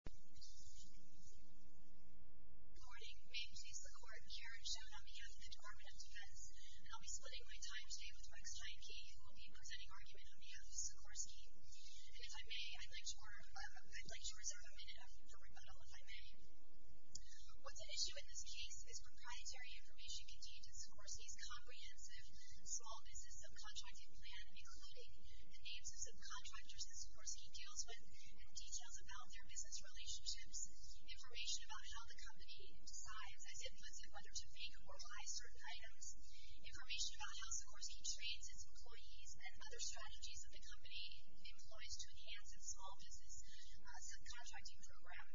Good morning. Ma'am, please look over here and show it on behalf of the Department of Defense. I'll be splitting my time today with Rex Jahnke, who will be presenting argument on behalf of Sikorsky. And if I may, I'd like to reserve a minute for rebuttal, if I may. What's at issue in this case is proprietary information contained in Sikorsky's comprehensive small business subcontracting plan, including the names of subcontractors that Sikorsky deals with and details about their business relationships, information about how the company decides as it puts it under to make or buy certain items, information about how Sikorsky trains its employees and other strategies that the company employs to enhance its small business subcontracting program.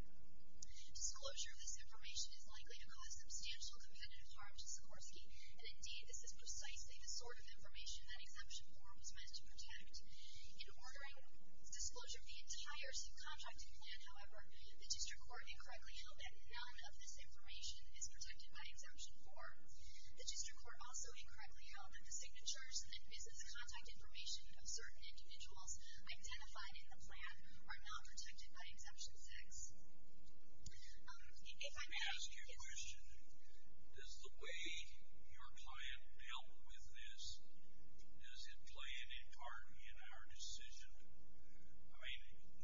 Disclosure of this information is likely to cause substantial competitive harm to Sikorsky, and indeed, this is precisely the sort of information that Exemption Form was meant to protect. In ordering disclosure of the entire subcontracting plan, however, the district court incorrectly held that none of this information is protected by Exemption Form. The district court also incorrectly held that the signatures and business contact information of certain individuals identified in the plan are not protected by Exemption 6. Let me ask you a question. Does the way your client dealt with this, does it play any part in our decision? I mean,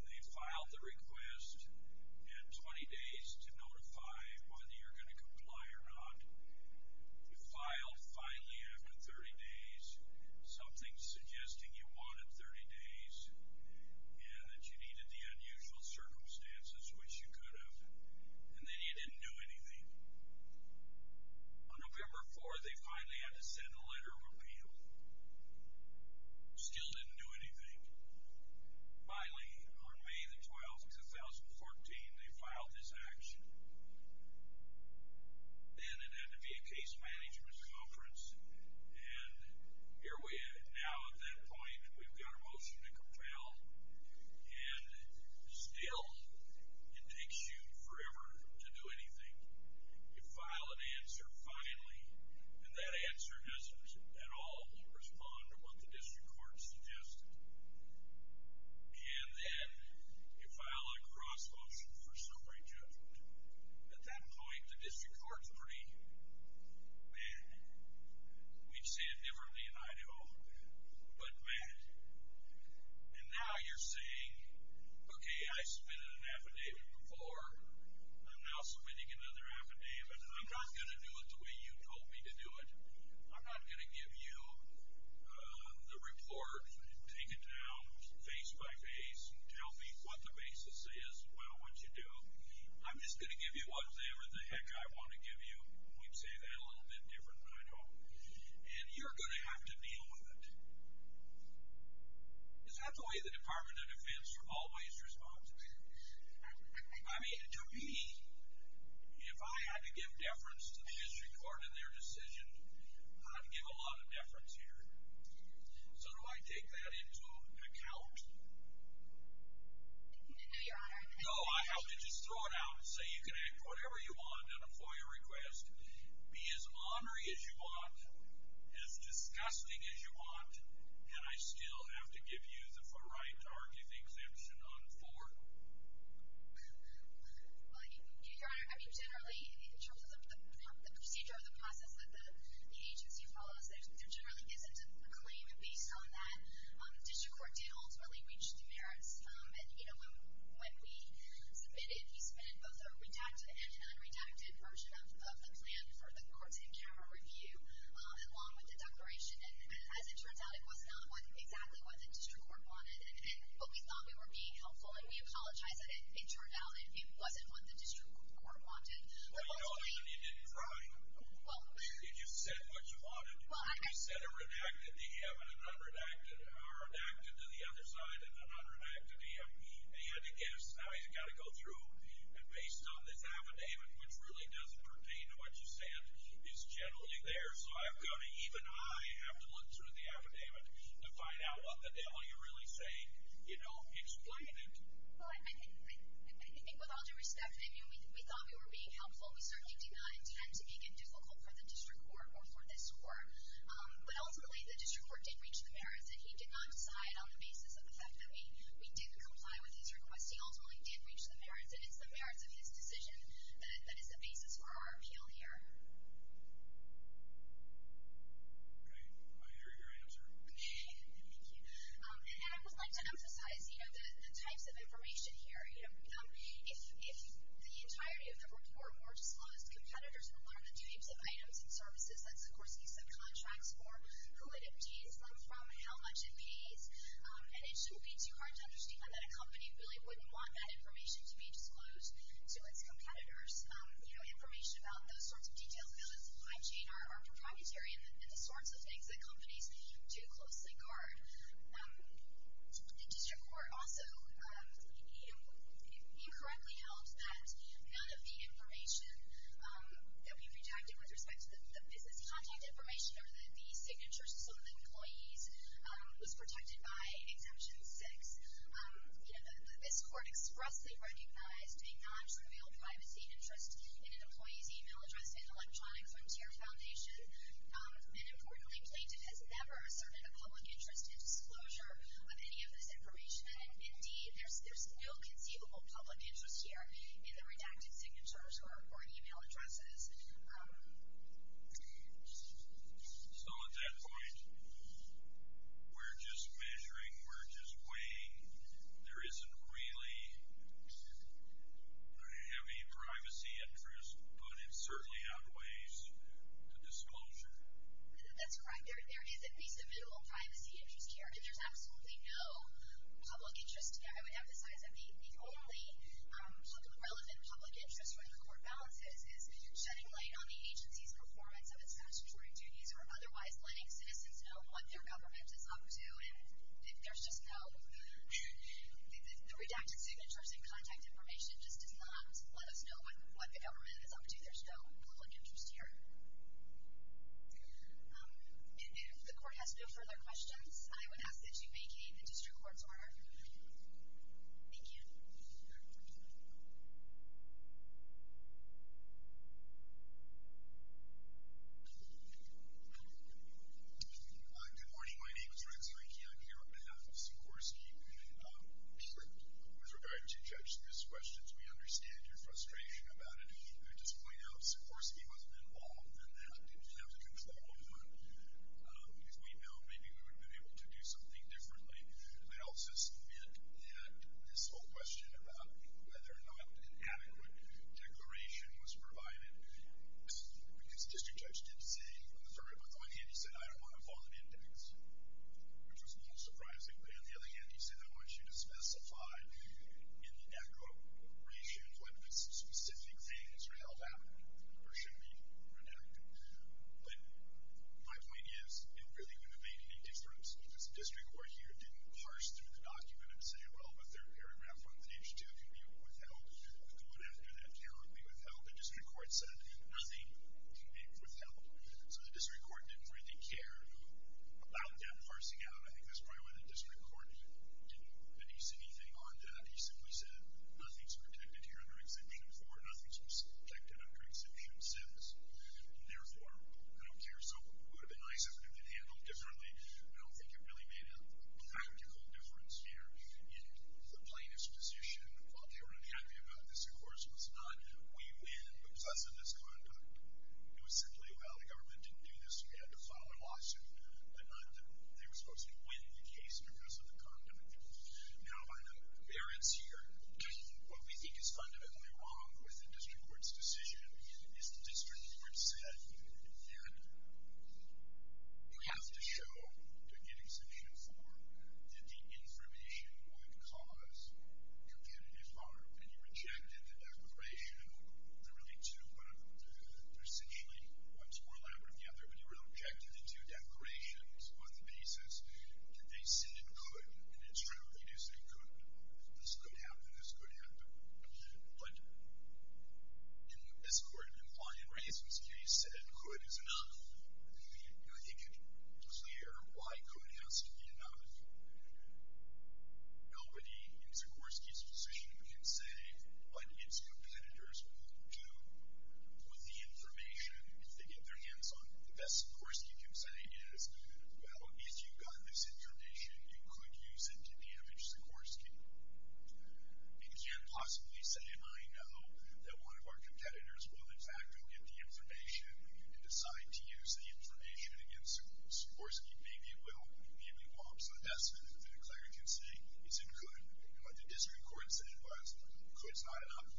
they filed the request at 20 days to notify whether you're going to comply or not. You filed finally after 30 days, something suggesting you wanted 30 days, and that you needed the unusual circumstances which you could have, and then you didn't do anything. On November 4th, they finally had to send a letter of appeal. Still didn't do anything. Finally, on May the 12th, 2014, they filed this action. Then it had to be a case management conference, and here we are now at that point, and we've got a motion to compel, and still, it takes you forever to do anything. You file an answer finally, and that answer doesn't at all respond to what the district court suggested, and then you file a cross-motion for summary judgment. At that point, the district court's pretty mad. We'd say it differently, and I do, but mad. And now you're saying, okay, I submitted an affidavit before. I'm now submitting another affidavit, and I'm not going to do it the way you told me to do it. I'm not going to give you the report, take it down face-by-face, tell me what the basis is, what I want you to do. I'm just going to give you whatever the heck I want to give you. We'd say that a little bit different, but I don't. And you're going to have to deal with it. Is that the way the Department of Defense are always responsive? I mean, to me, if I had to give deference to the district court in their decision, I'd give a lot of deference here. So do I take that into account? No, Your Honor. No, I have to just throw it out and say you can have whatever you want on a FOIA request, be as ornery as you want, as disgusting as you want, and I still have to give you the right to argue the exemption on the floor? Well, Your Honor, I mean, generally, in terms of the procedure or the process that the agency follows, there generally isn't a claim based on that. The district court did ultimately reach demerits. And, you know, when we submitted, he submitted both a redacted and an unredacted version of the plan for the courts-in-court review, along with the declaration. And as it turns out, it was not exactly what the district court wanted. But we thought we were being helpful, and we apologize that it turned out it wasn't what the district court wanted. Well, Your Honor, you didn't try. You just said what you wanted. You said a redacted to him, an unredacted to the other side, and an unredacted to him. And he had to guess how he's got to go through. And based on this affidavit, which really doesn't pertain to what you said, is generally there. So even I have to look through the affidavit to find out what the devil you're really saying, you know, explained it. Well, I think with all due respect, we thought we were being helpful. We certainly did not intend to make it difficult for the district court or for this court. But ultimately, the district court did reach the merits, and he did not decide on the basis of the fact that we didn't comply with his request. He ultimately did reach the merits, and it's the merits of his decision that is the basis for our appeal here. Great. I hear your answer. Thank you. And then I would like to emphasize, you know, the types of information here. You know, if the entirety of the report were more disclosed, competitors would learn the types of items and services that Sikorsky subcontracts for, who it obtains them from, how much it pays. And it should be too hard to understand that a company really wouldn't want that information to be disclosed to its competitors. You know, information about those sorts of details, our proprietary and the sorts of things that companies do closely guard. The district court also, you know, incorrectly held that none of the information that we protected with respect to the business contact information or the signatures of some of the employees was protected by Exemption 6. You know, this court expressly recognized a non-trivial privacy interest in an employee's e-mail address in Electronic Frontier Foundation. And, importantly, Plaintiff has never asserted a public interest in disclosure of any of this information. And, indeed, there's no conceivable public interest here in the redacted signatures or e-mail addresses. So, at that point, we're just measuring, we're just weighing. There isn't really a heavy privacy interest, but it certainly outweighs the disclosure. That's correct. There is, at least, a minimal privacy interest here. And there's absolutely no public interest. I would emphasize that the only relevant public interest where the court balances is shedding light on the agency's performance of its statutory duties or otherwise letting citizens know what their government is up to. And there's just no, the redacted signatures and contact information just does not let us know what the government is up to. There's no public interest here. And if the court has no further questions, I would ask that you vacate the district court's order. Thank you. Good morning. My name is Rex Reiki. I'm here on behalf of Sikorsky. With regard to Judge Smith's questions, we understand your frustration about it. I'd just point out Sikorsky wasn't involved in that. He didn't have the control over it. If we know, maybe we would have been able to do something differently. I also submit that this whole question about whether or not an adequate declaration was provided, because District Judge did say, on the very bottom of my hand, he said, I don't want a violent index, which was a little surprising. But on the other hand, he said, I want you to specify in the aggregations when specific things are held out or should be redacted. But my point is, it really wouldn't have made any difference, because the district court here didn't parse through the document and say, well, the third paragraph on page two could be withheld. We don't have to do that terribly withheld. The district court said, nothing can be withheld. So the district court didn't really care about that parsing out. I think that's probably why the district court didn't base anything on that. He simply said, nothing's protected here under Exhibit 4. Nothing's protected under Exhibit 6. Therefore, I don't care. So it would have been nice if it had been handled differently. I don't think it really made a practical difference here in the plaintiff's position. While they were unhappy about this, of course, it was not we win because of this conduct. It was simply, well, the government didn't do this. We had to file a lawsuit. They were supposed to win the case because of the conduct. Now, by the variance here, what we think is fundamentally wrong with the district court's decision is the district court said that you have to show, to get exemption for, that the information would cause competitive harm. And you rejected the declaration of the really two, but essentially one's more elaborate than the other. But you rejected the two declarations on the basis that they said it could. And it's true. You do say it could. This could happen. This could happen. But, you know, this court implied in Reisman's case said could is enough. I think it's clear why could has to be enough. Nobody in Sikorsky's position can say what its competitors will do with the information. If they get their hands on it, the best Sikorsky can say is, well, if you got this information, you could use it to damage Sikorsky. Because you can't possibly say, well, I know that one of our competitors will, in fact, go get the information and decide to use the information against Sikorsky. Maybe he will. Maybe he won't. So the best thing that the declarer can say is it could. But the district court said it was. Could is not enough.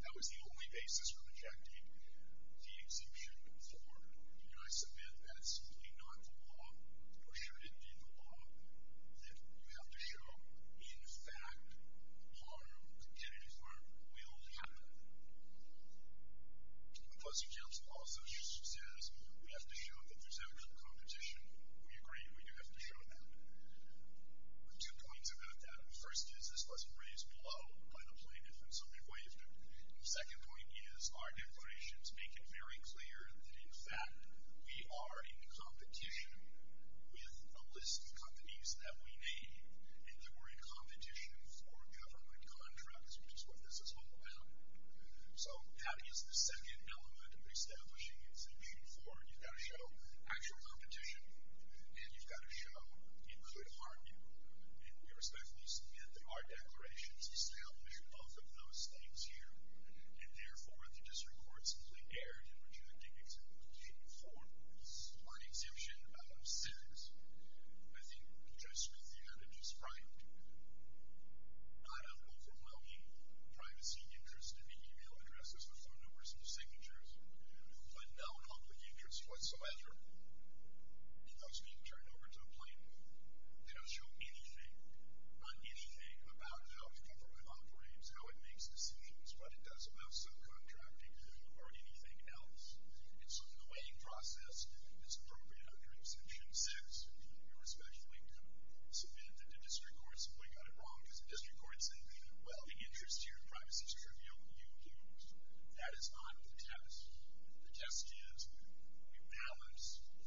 That was the only basis for rejecting the exemption for. And I submit that it's simply not the law. You're shooting in the law that you have to show, in fact, harm, contingent harm, will happen. Plus, the judge also says we have to show that there's actually competition. We agree we do have to show that. Two points about that. The first is this wasn't raised below by the plaintiff, and so we waived it. And the second point is our declarations make it very clear that, in fact, we are in competition with a list of companies that we need, and that we're in competition for government contracts, which is what this is all about. So that is the second element of establishing exemption for. You've got to show actual competition, and you've got to show it could harm you. And we respectfully submit that our declarations establish both of those things here. And, therefore, the district court simply erred in rejecting exemption for. Our exemption says, I think Judge Smithy had it described, not overwhelming privacy interests to make e-mail addresses with no numbers or signatures, but no public interest whatsoever. It does not turn over to a plaintiff. They don't show anything, not anything, about how the government operates, how it makes decisions, what it does about subcontracting, or anything else. And so the weighing process is appropriate under Exemption 6. We respectfully submit that the district court simply got it wrong, because the district court said, well, the interest here in privacy is trivial, but you do. That is not the test. The test is we balance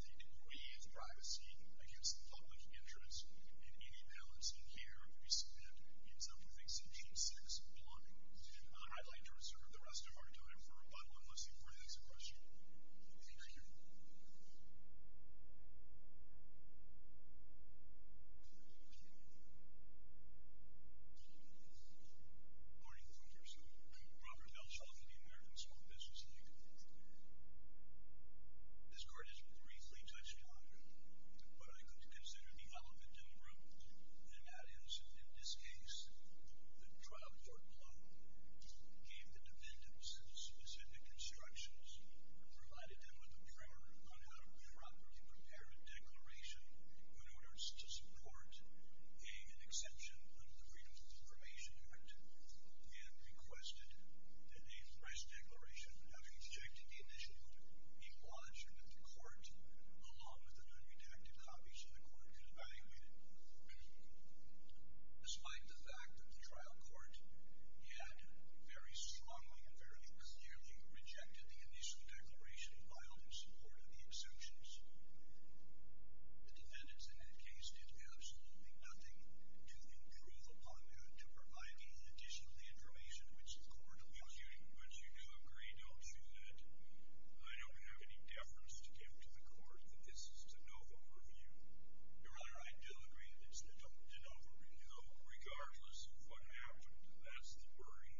the degree of privacy against the public interest, and any balance in here we submit in self-exemption 6 upon. I'd like to reserve the rest of our time for rebuttal, unless anybody has a question. Thank you. Good morning, Congresswoman. I'm Robert Belchoff of the American Small Business League. This court has briefly touched on what I consider the element in the room, and that is, in this case, the trial court below gave the defendants specific instructions, provided them with a primer on how to properly prepare a declaration in order to support paying an exemption under the Freedom of Information Act, and requested that a press declaration, having rejected the initial, be lodged with the court, along with the non-deductive copies of the court, be evaluated. Despite the fact that the trial court had very strongly and fairly clearly rejected the initial declaration filed in support of the exemptions, the defendants in that case did absolutely nothing to improve upon that and to provide me with additional information, which the court will give you. But you do agree, don't you, that I don't have any deference to give to the court that this is a de novo review? Your Honor, I do agree that it's a de novo review, regardless of what happened. That's the worry.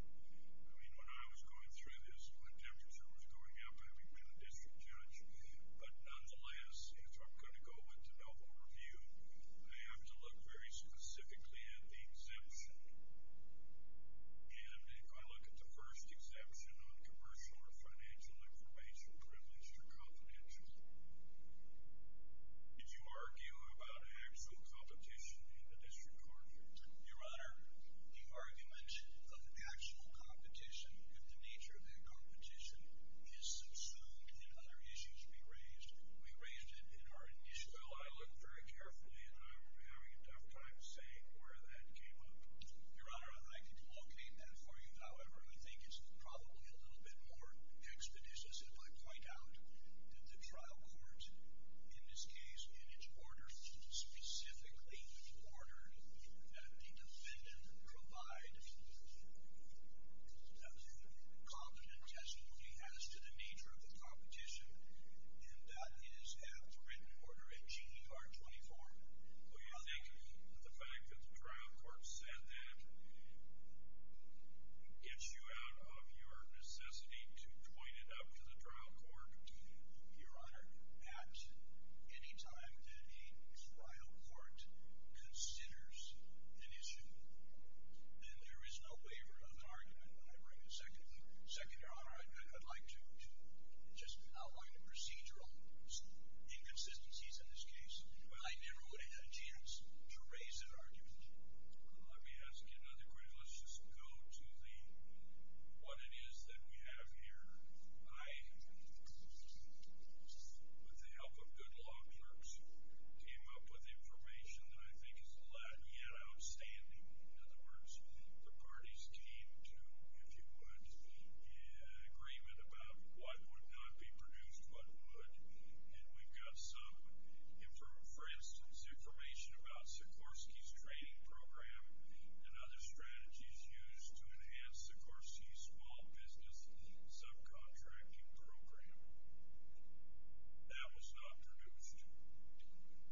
I mean, when I was going through this, when the demonstration was going up, I had been a district judge. But nonetheless, if I'm going to go with a de novo review, I have to look very specifically at the exemption. And if I look at the first exemption on commercial or financial information, privileged or confidential, did you argue about actual competition in the district court? Your Honor, the argument of actual competition, but the nature of that competition is subsumed in other issues we raised. We raised it in our initial. I looked very carefully, and I'm having a tough time saying where that came up. Your Honor, I can locate that for you. However, I think it's probably a little bit more expeditious if I point out that the trial court in this case, in its order, specifically ordered that a defendant provide the competent testimony as to the nature of the competition, and that is after written order, a G.E.R. 24. Do you think the fact that the trial court said that gets you out of your necessity to point it up to the trial court? Your Honor, at any time that a trial court considers an issue, then there is no waiver of an argument. Second, Your Honor, I'd like to just outline the procedural inconsistencies in this case. I never would have had a chance to raise an argument. Let me ask you another question. Let's just go to what it is that we have here. I, with the help of good law clerks, came up with information that I think is not yet outstanding. In other words, the parties came to, if you would, an agreement about what would not be produced, what would. And we've got some, for instance, information about Sikorsky's training program and other strategies used to enhance Sikorsky's small business subcontracting program. That was not produced.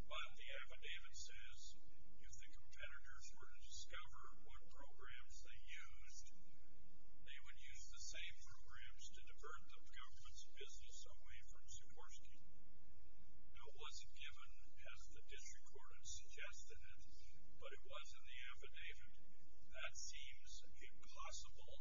But the affidavit says, if the competitors were to discover what programs they used, they would use the same programs to divert the government's business away from Sikorsky. That wasn't given, as the district court had suggested, but it was in the affidavit. That seems a possible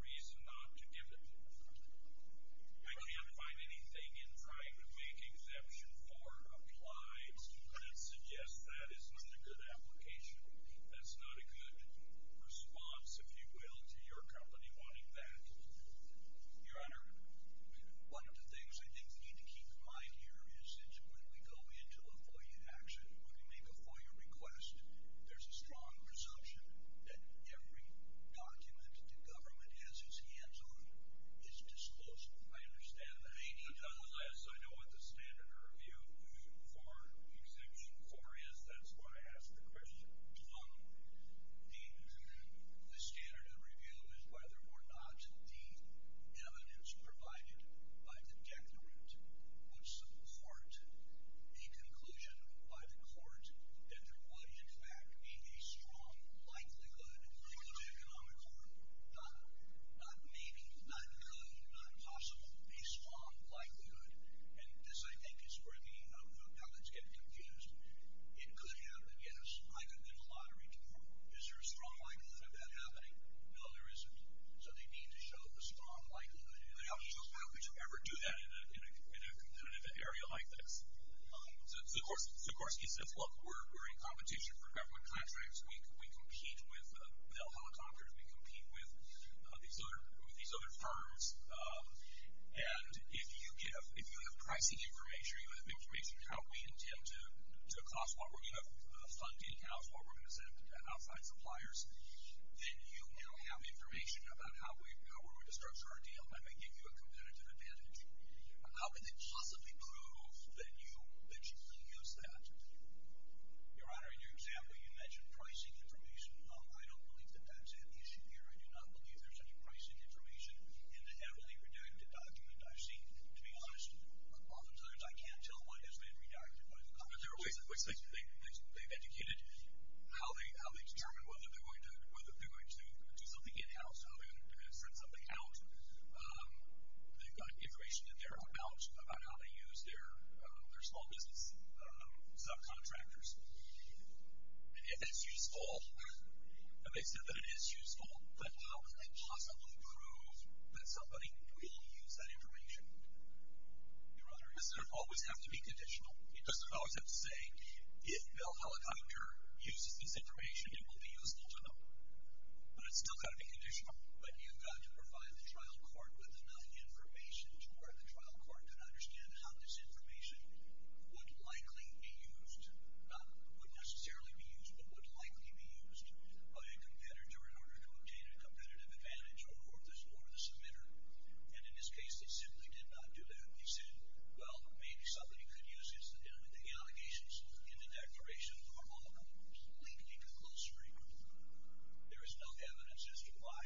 reason not to give it. I can't find anything in trying to make exception for applies that suggest that is not a good application. That's not a good response, if you will, to your company wanting that. Your Honor, one of the things I think you need to keep in mind here is that when we go into a FOIA action, when we make a FOIA request, there's a strong presumption that every document the government has its hands on is disclosed. I understand that. I know what the standard of review for executing FOIA is. That's why I asked the question. The standard of review is whether or not the evidence provided by the deterrent puts to the court a conclusion by the court that there would, in fact, be a strong likelihood through the economic order, not maybe, not could, not possible, a strong likelihood. And this, I think, is bringing up how that's getting confused. It could happen, yes, either in a lottery draw. Is there a strong likelihood of that happening? No, there isn't. So they need to show the strong likelihood. They have to show how could you ever do that in a competitive area like this. So Gorski says, look, we're in competition for government contracts. We compete with Bell Helicopters. We compete with these other firms. And if you have pricing information, you have information how we intend to cost what we're going to fund in-house, what we're going to send to outside suppliers, then you now have information about how we're going to structure our deal and then give you a competitive advantage. How can they possibly prove that you can use that? Your Honor, in your example, you mentioned pricing information. I don't believe that that's an issue here. I do not believe there's any pricing information in the heavily redacted document I've seen. To be honest, oftentimes I can't tell what has been redacted by the public. But there are ways in which they've educated how they determine whether they're going to do something in-house, how they're going to send something out. They've got information in there about how they use their small business subcontractors. If it's useful, and they said that it is useful, but how can they possibly prove that somebody really used that information? Your Honor, does it always have to be conditional? It doesn't always have to say, if Bill Helicopter uses this information, it will be useful to them. But it's still got to be conditional. But you've got to provide the trial court with enough information to where the trial court can understand how this information would likely be used. Not would necessarily be used, but would likely be used by a competitor in order to obtain a competitive advantage over the submitter. And in this case, they simply did not do that. They said, well, maybe somebody could use this at the end of the allegations in the declaration for all of them, leaving you to close the case. There is no evidence as to why,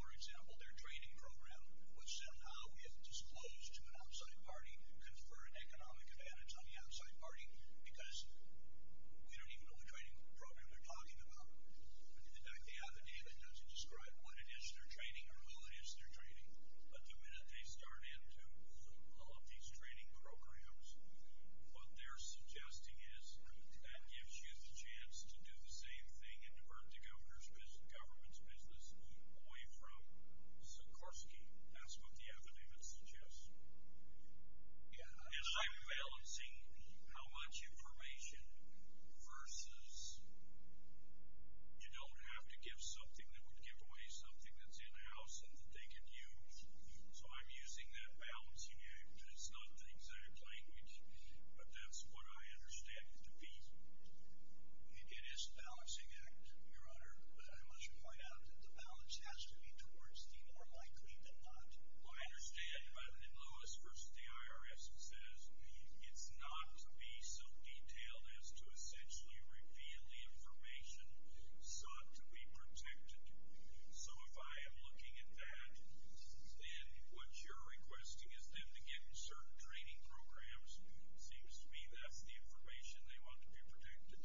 for example, their training program would somehow, if disclosed to an outside party, confer an economic advantage on the outside party, because we don't even know what training program they're talking about. In fact, the other day, they had to describe what it is they're training or who it is they're training. But the minute they start into all of these training programs, what they're suggesting is that gives you the chance to do the same thing and divert the government's business away from Sikorsky. That's what the evidence suggests. It's like balancing how much information versus you don't have to give something that would give away something that's in-house and that they can use. So I'm using that balancing act. It's not the exact language, but that's what I understand it to be. It is a balancing act, Your Honor, but I must point out that the balance has to be towards the more likely than not. I understand, but in Lewis v. the IRS, it says it's not to be so detailed as to essentially reveal the information sought to be protected. So if I am looking at that, then what you're requesting is them to give certain training programs. It seems to me that's the information they want to be protected.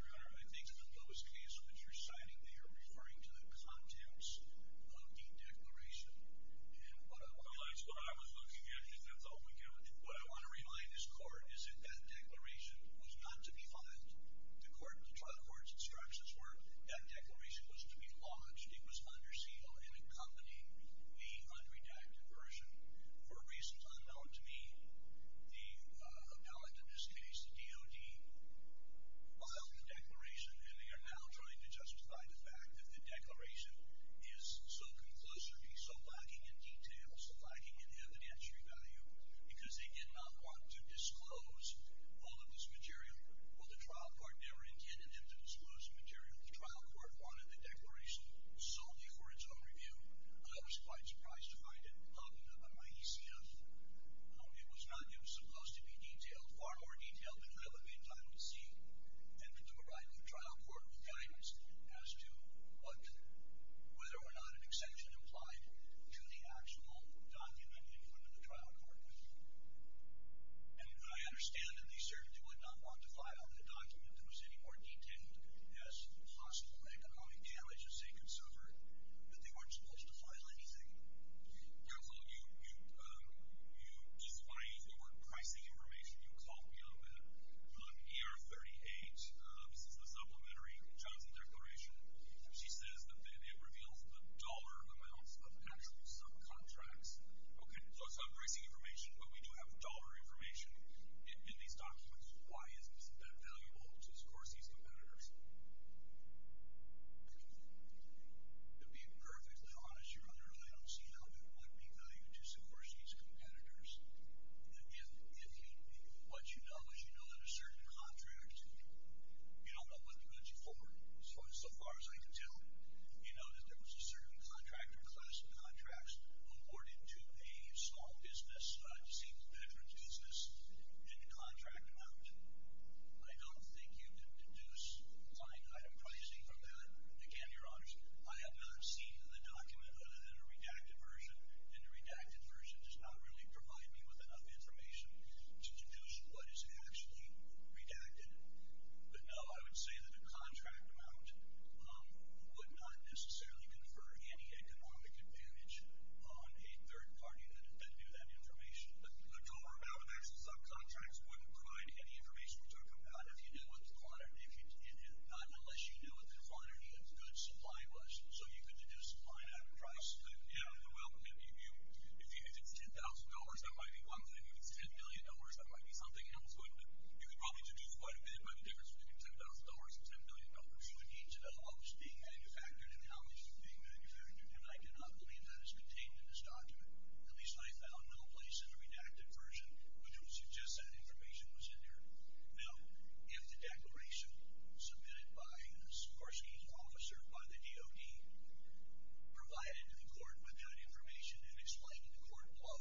Your Honor, I think in the Lewis case that you're citing, they are referring to the contents of the declaration. That's what I was looking at, and that's all we got. What I want to remind this Court is that that declaration was not to be filed. The trial court's instructions were that declaration was to be lodged. It was under seal and accompanying the unredacted version. For reasons unknown to me, the appellate in this case, the DOD, filed the declaration, and they are now trying to justify the fact that the declaration is so conclusively, so lacking in detail, so lacking in evidentiary value because they did not want to disclose all of this material. Well, the trial court never intended them to disclose the material. The trial court wanted the declaration solely for its own review. I was quite surprised to find it not in my ECF. It was not new. It was supposed to be detailed, far more detailed than relevant, I would see, and to provide the trial court with guidance as to whether or not an exception applied to the actual document in front of the trial court. And I understand that they certainly would not want to file a document that was any more detailed as possible economic damage, as they considered that they weren't supposed to file anything. Counsel, despite the overpricing information you called me on that, on ER38, this is the supplementary Johnson declaration, and she says that it reveals the dollar amounts of actual subcontracts. Okay, so it's overpricing information, but we do have dollar information in these documents. Why is that valuable to Scorsese's competitors? To be perfectly honest, Your Honor, I don't see how that would be valuable to Scorsese's competitors. If what you know is you know that a certain contract, you don't know what it puts you forward. So far as I can tell, you know that there was a certain contract or class of contracts awarded to a small business, a single business in the contract amount. I don't think you can deduce finite item pricing from that. Again, Your Honors, I have not seen in the document other than a redacted version, and the redacted version does not really provide me with enough information to deduce what is actually redacted. But no, I would say that a contract amount would not necessarily confer any economic advantage on a third party that knew that information. A dollar amount of actual subcontracts wouldn't provide any information to a company unless you knew what the quantity of good supply was. So you could deduce supply and item price. Yeah, well, if it's $10,000, that might be one thing. If it's $10 billion, that might be something else. You could probably deduce quite a bit by the difference between $10,000 and $10 billion for each of the homes being manufactured and the houses being manufactured, and I do not believe that is contained in this document. At least I found no place in the redacted version which would suggest that information was in there. Now, if the declaration submitted by a Sikorsky officer by the DOD provided the court with that information and explained it to the court below,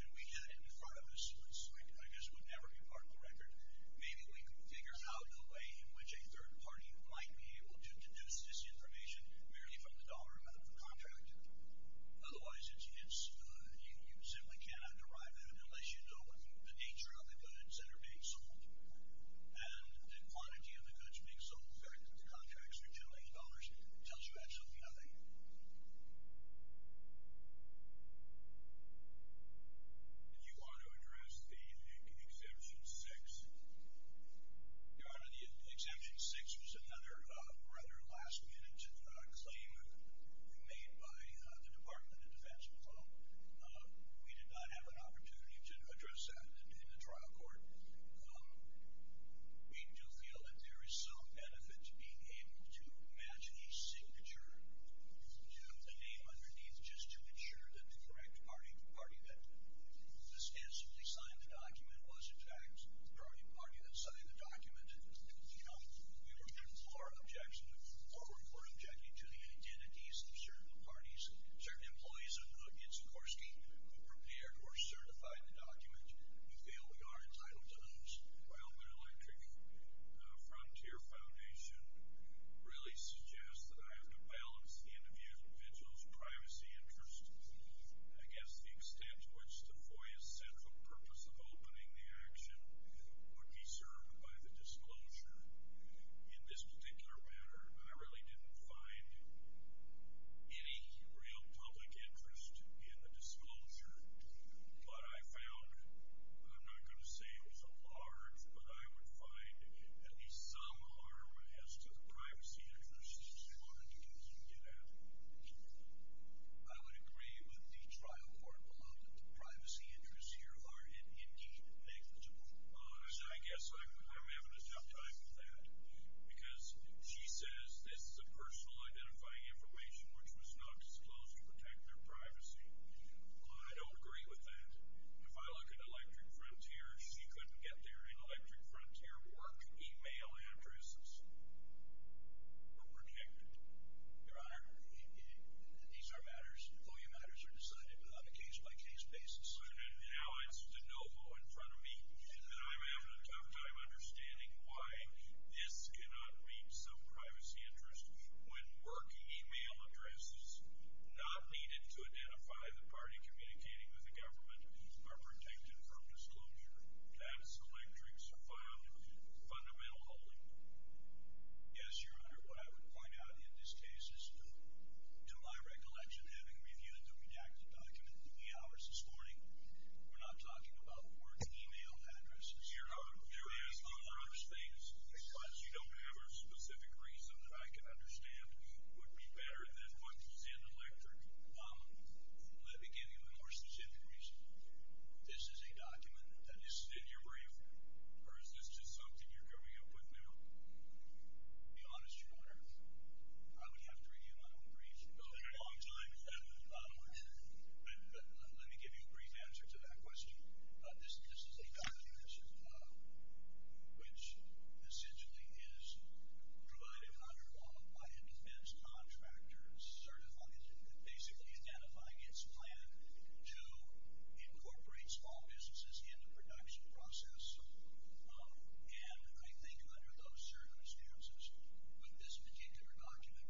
and we had it in front of us, which I guess would never be part of the record, maybe we could figure out a way in which a third party might be able to deduce this information merely from the dollar amount of the contract. Otherwise, you simply cannot derive that unless you know the nature of the goods that are being sold. And the quantity of the goods being sold, the fact that the contract is for $10 million tells you actually nothing. If you want to address the Exemption 6, Your Honor, the Exemption 6 was another rather last-minute claim made by the Department of Defense. We did not have an opportunity to address that in the trial court. We do feel that there is some benefit to being able to imagine a signature, to have the name underneath just to ensure that the correct party, the party that substantially signed the document was, in fact, the party that signed the document. Now, we would implore objection, or report objection, to the identities of certain parties, if they only are entitled to those. Well, the Electric Frontier Foundation really suggests that I have to balance the individual's privacy interest, I guess, the extent to which the FOIA's central purpose of opening the action would be served by the disclosure. In this particular matter, I really didn't find any real public interest in the disclosure. But I found, I'm not going to say it was a large, but I would find at least some harm as to the privacy interest, as far as you can get at. I would agree with the trial court, but the privacy interests here are indeed negligible. I guess I'm having a tough time with that, because she says this is a personal identifying information, which was not disclosed to protect their privacy. Well, I don't agree with that. If I look at Electric Frontier, she couldn't get their Electric Frontier work email addresses protected. Your Honor, these are matters, FOIA matters are decided on a case-by-case basis. Now it's de novo in front of me, and I'm having a tough time understanding why this cannot meet some privacy interest when work email addresses, not needed to identify the party communicating with the government, are protected from disclosure. That's the way tricks are found in fundamental holding. Yes, Your Honor, what I would point out in this case is, to my recollection, having reviewed the reacted document three hours this morning, we're not talking about work email addresses. Your Honor, there is a large thing, because you don't have a specific reason that I can understand would be better than what's in Electric. Let me give you a more specific reason. This is a document that is in your brief, or is this just something you're coming up with now? To be honest, Your Honor, I would have to review my own brief, because a long time has passed. Let me give you a brief answer to that question. This is a document, which essentially is provided by a defense contractor basically identifying its plan to incorporate small businesses in the production process. And I think under those circumstances, with this particular document,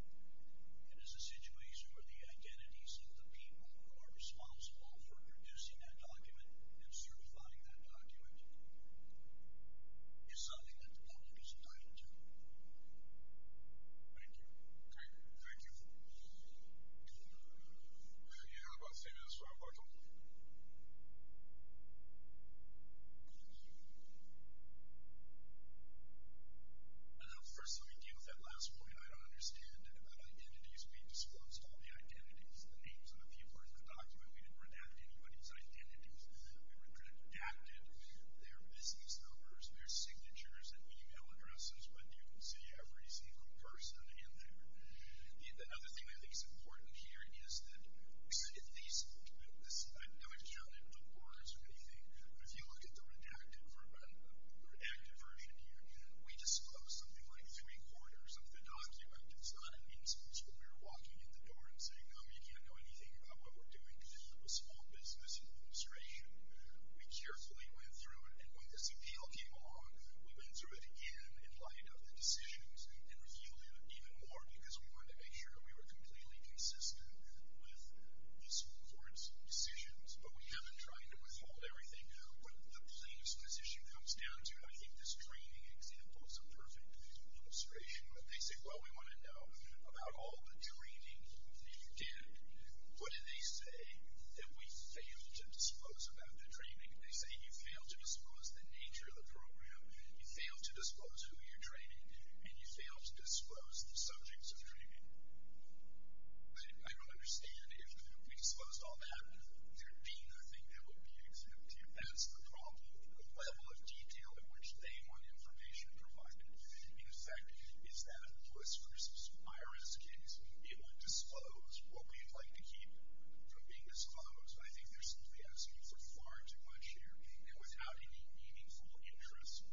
it is a situation where the identities of the people who are responsible for producing that document and certifying that document is something that the public is entitled to. Thank you. Okay, thank you. Your Honor, I'm about to say this, so I'm about to open it. First, let me give that last point. I don't understand identities. We disclosed all the identities of the names of the people in the document. We didn't redact anybody's identities. We redacted their business numbers, their signatures, their e-mail addresses, but you can see every single person in there. The other thing I think is important here is that if these folks... I don't know if it's found in book orders or anything, but if you look at the redacted version here, we disclosed something like three quarters of the document. It's not an inspection. We're walking in the door and saying, you know, you can't know anything about what we're doing. This is a small business administration. We carefully went through, and when this appeal came along, we went through it again and lightened up the decisions and reviewed it even more because we wanted to make sure we were completely consistent with these folks' decisions, but we haven't tried to withhold everything. But the police, when this issue comes down to it, I think this training example is a perfect illustration. They say, well, we want to know about all the training, and if you did, what did they say? That we failed to disclose about the training. They say you failed to disclose the nature of the program, you failed to disclose who you're training, and you failed to disclose the subjects of training. I don't understand. If we disclosed all that, there'd be nothing that would be exempted. That's the problem, the level of detail at which they want information provided. In fact, it's that a police versus IRS case. It would disclose what we'd like to keep from being disclosed, but I think they're simply asking for far too much here. And without any meaningful interest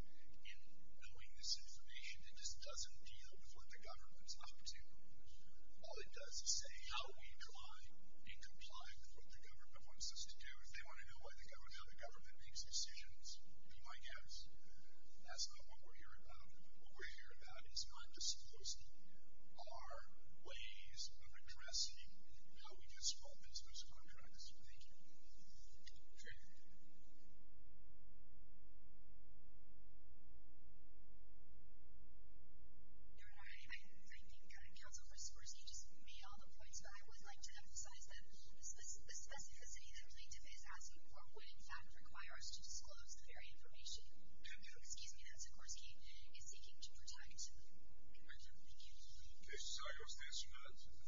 in knowing this information, it just doesn't deal with what the government's up to. All it does is say how we try and comply with what the government wants us to do. If they want to know how the government makes decisions, to my guess, that's not what we're here about. What we're here about is not disclosing our ways of addressing how we do small business contracts. Thank you. Jay? I think, counsel, first and foremost, you just made all the points, but I would like to emphasize that the specificity that plaintiff is asking for would, in fact, require us to disclose the very information that Sikorsky is seeking to protect. Thank you.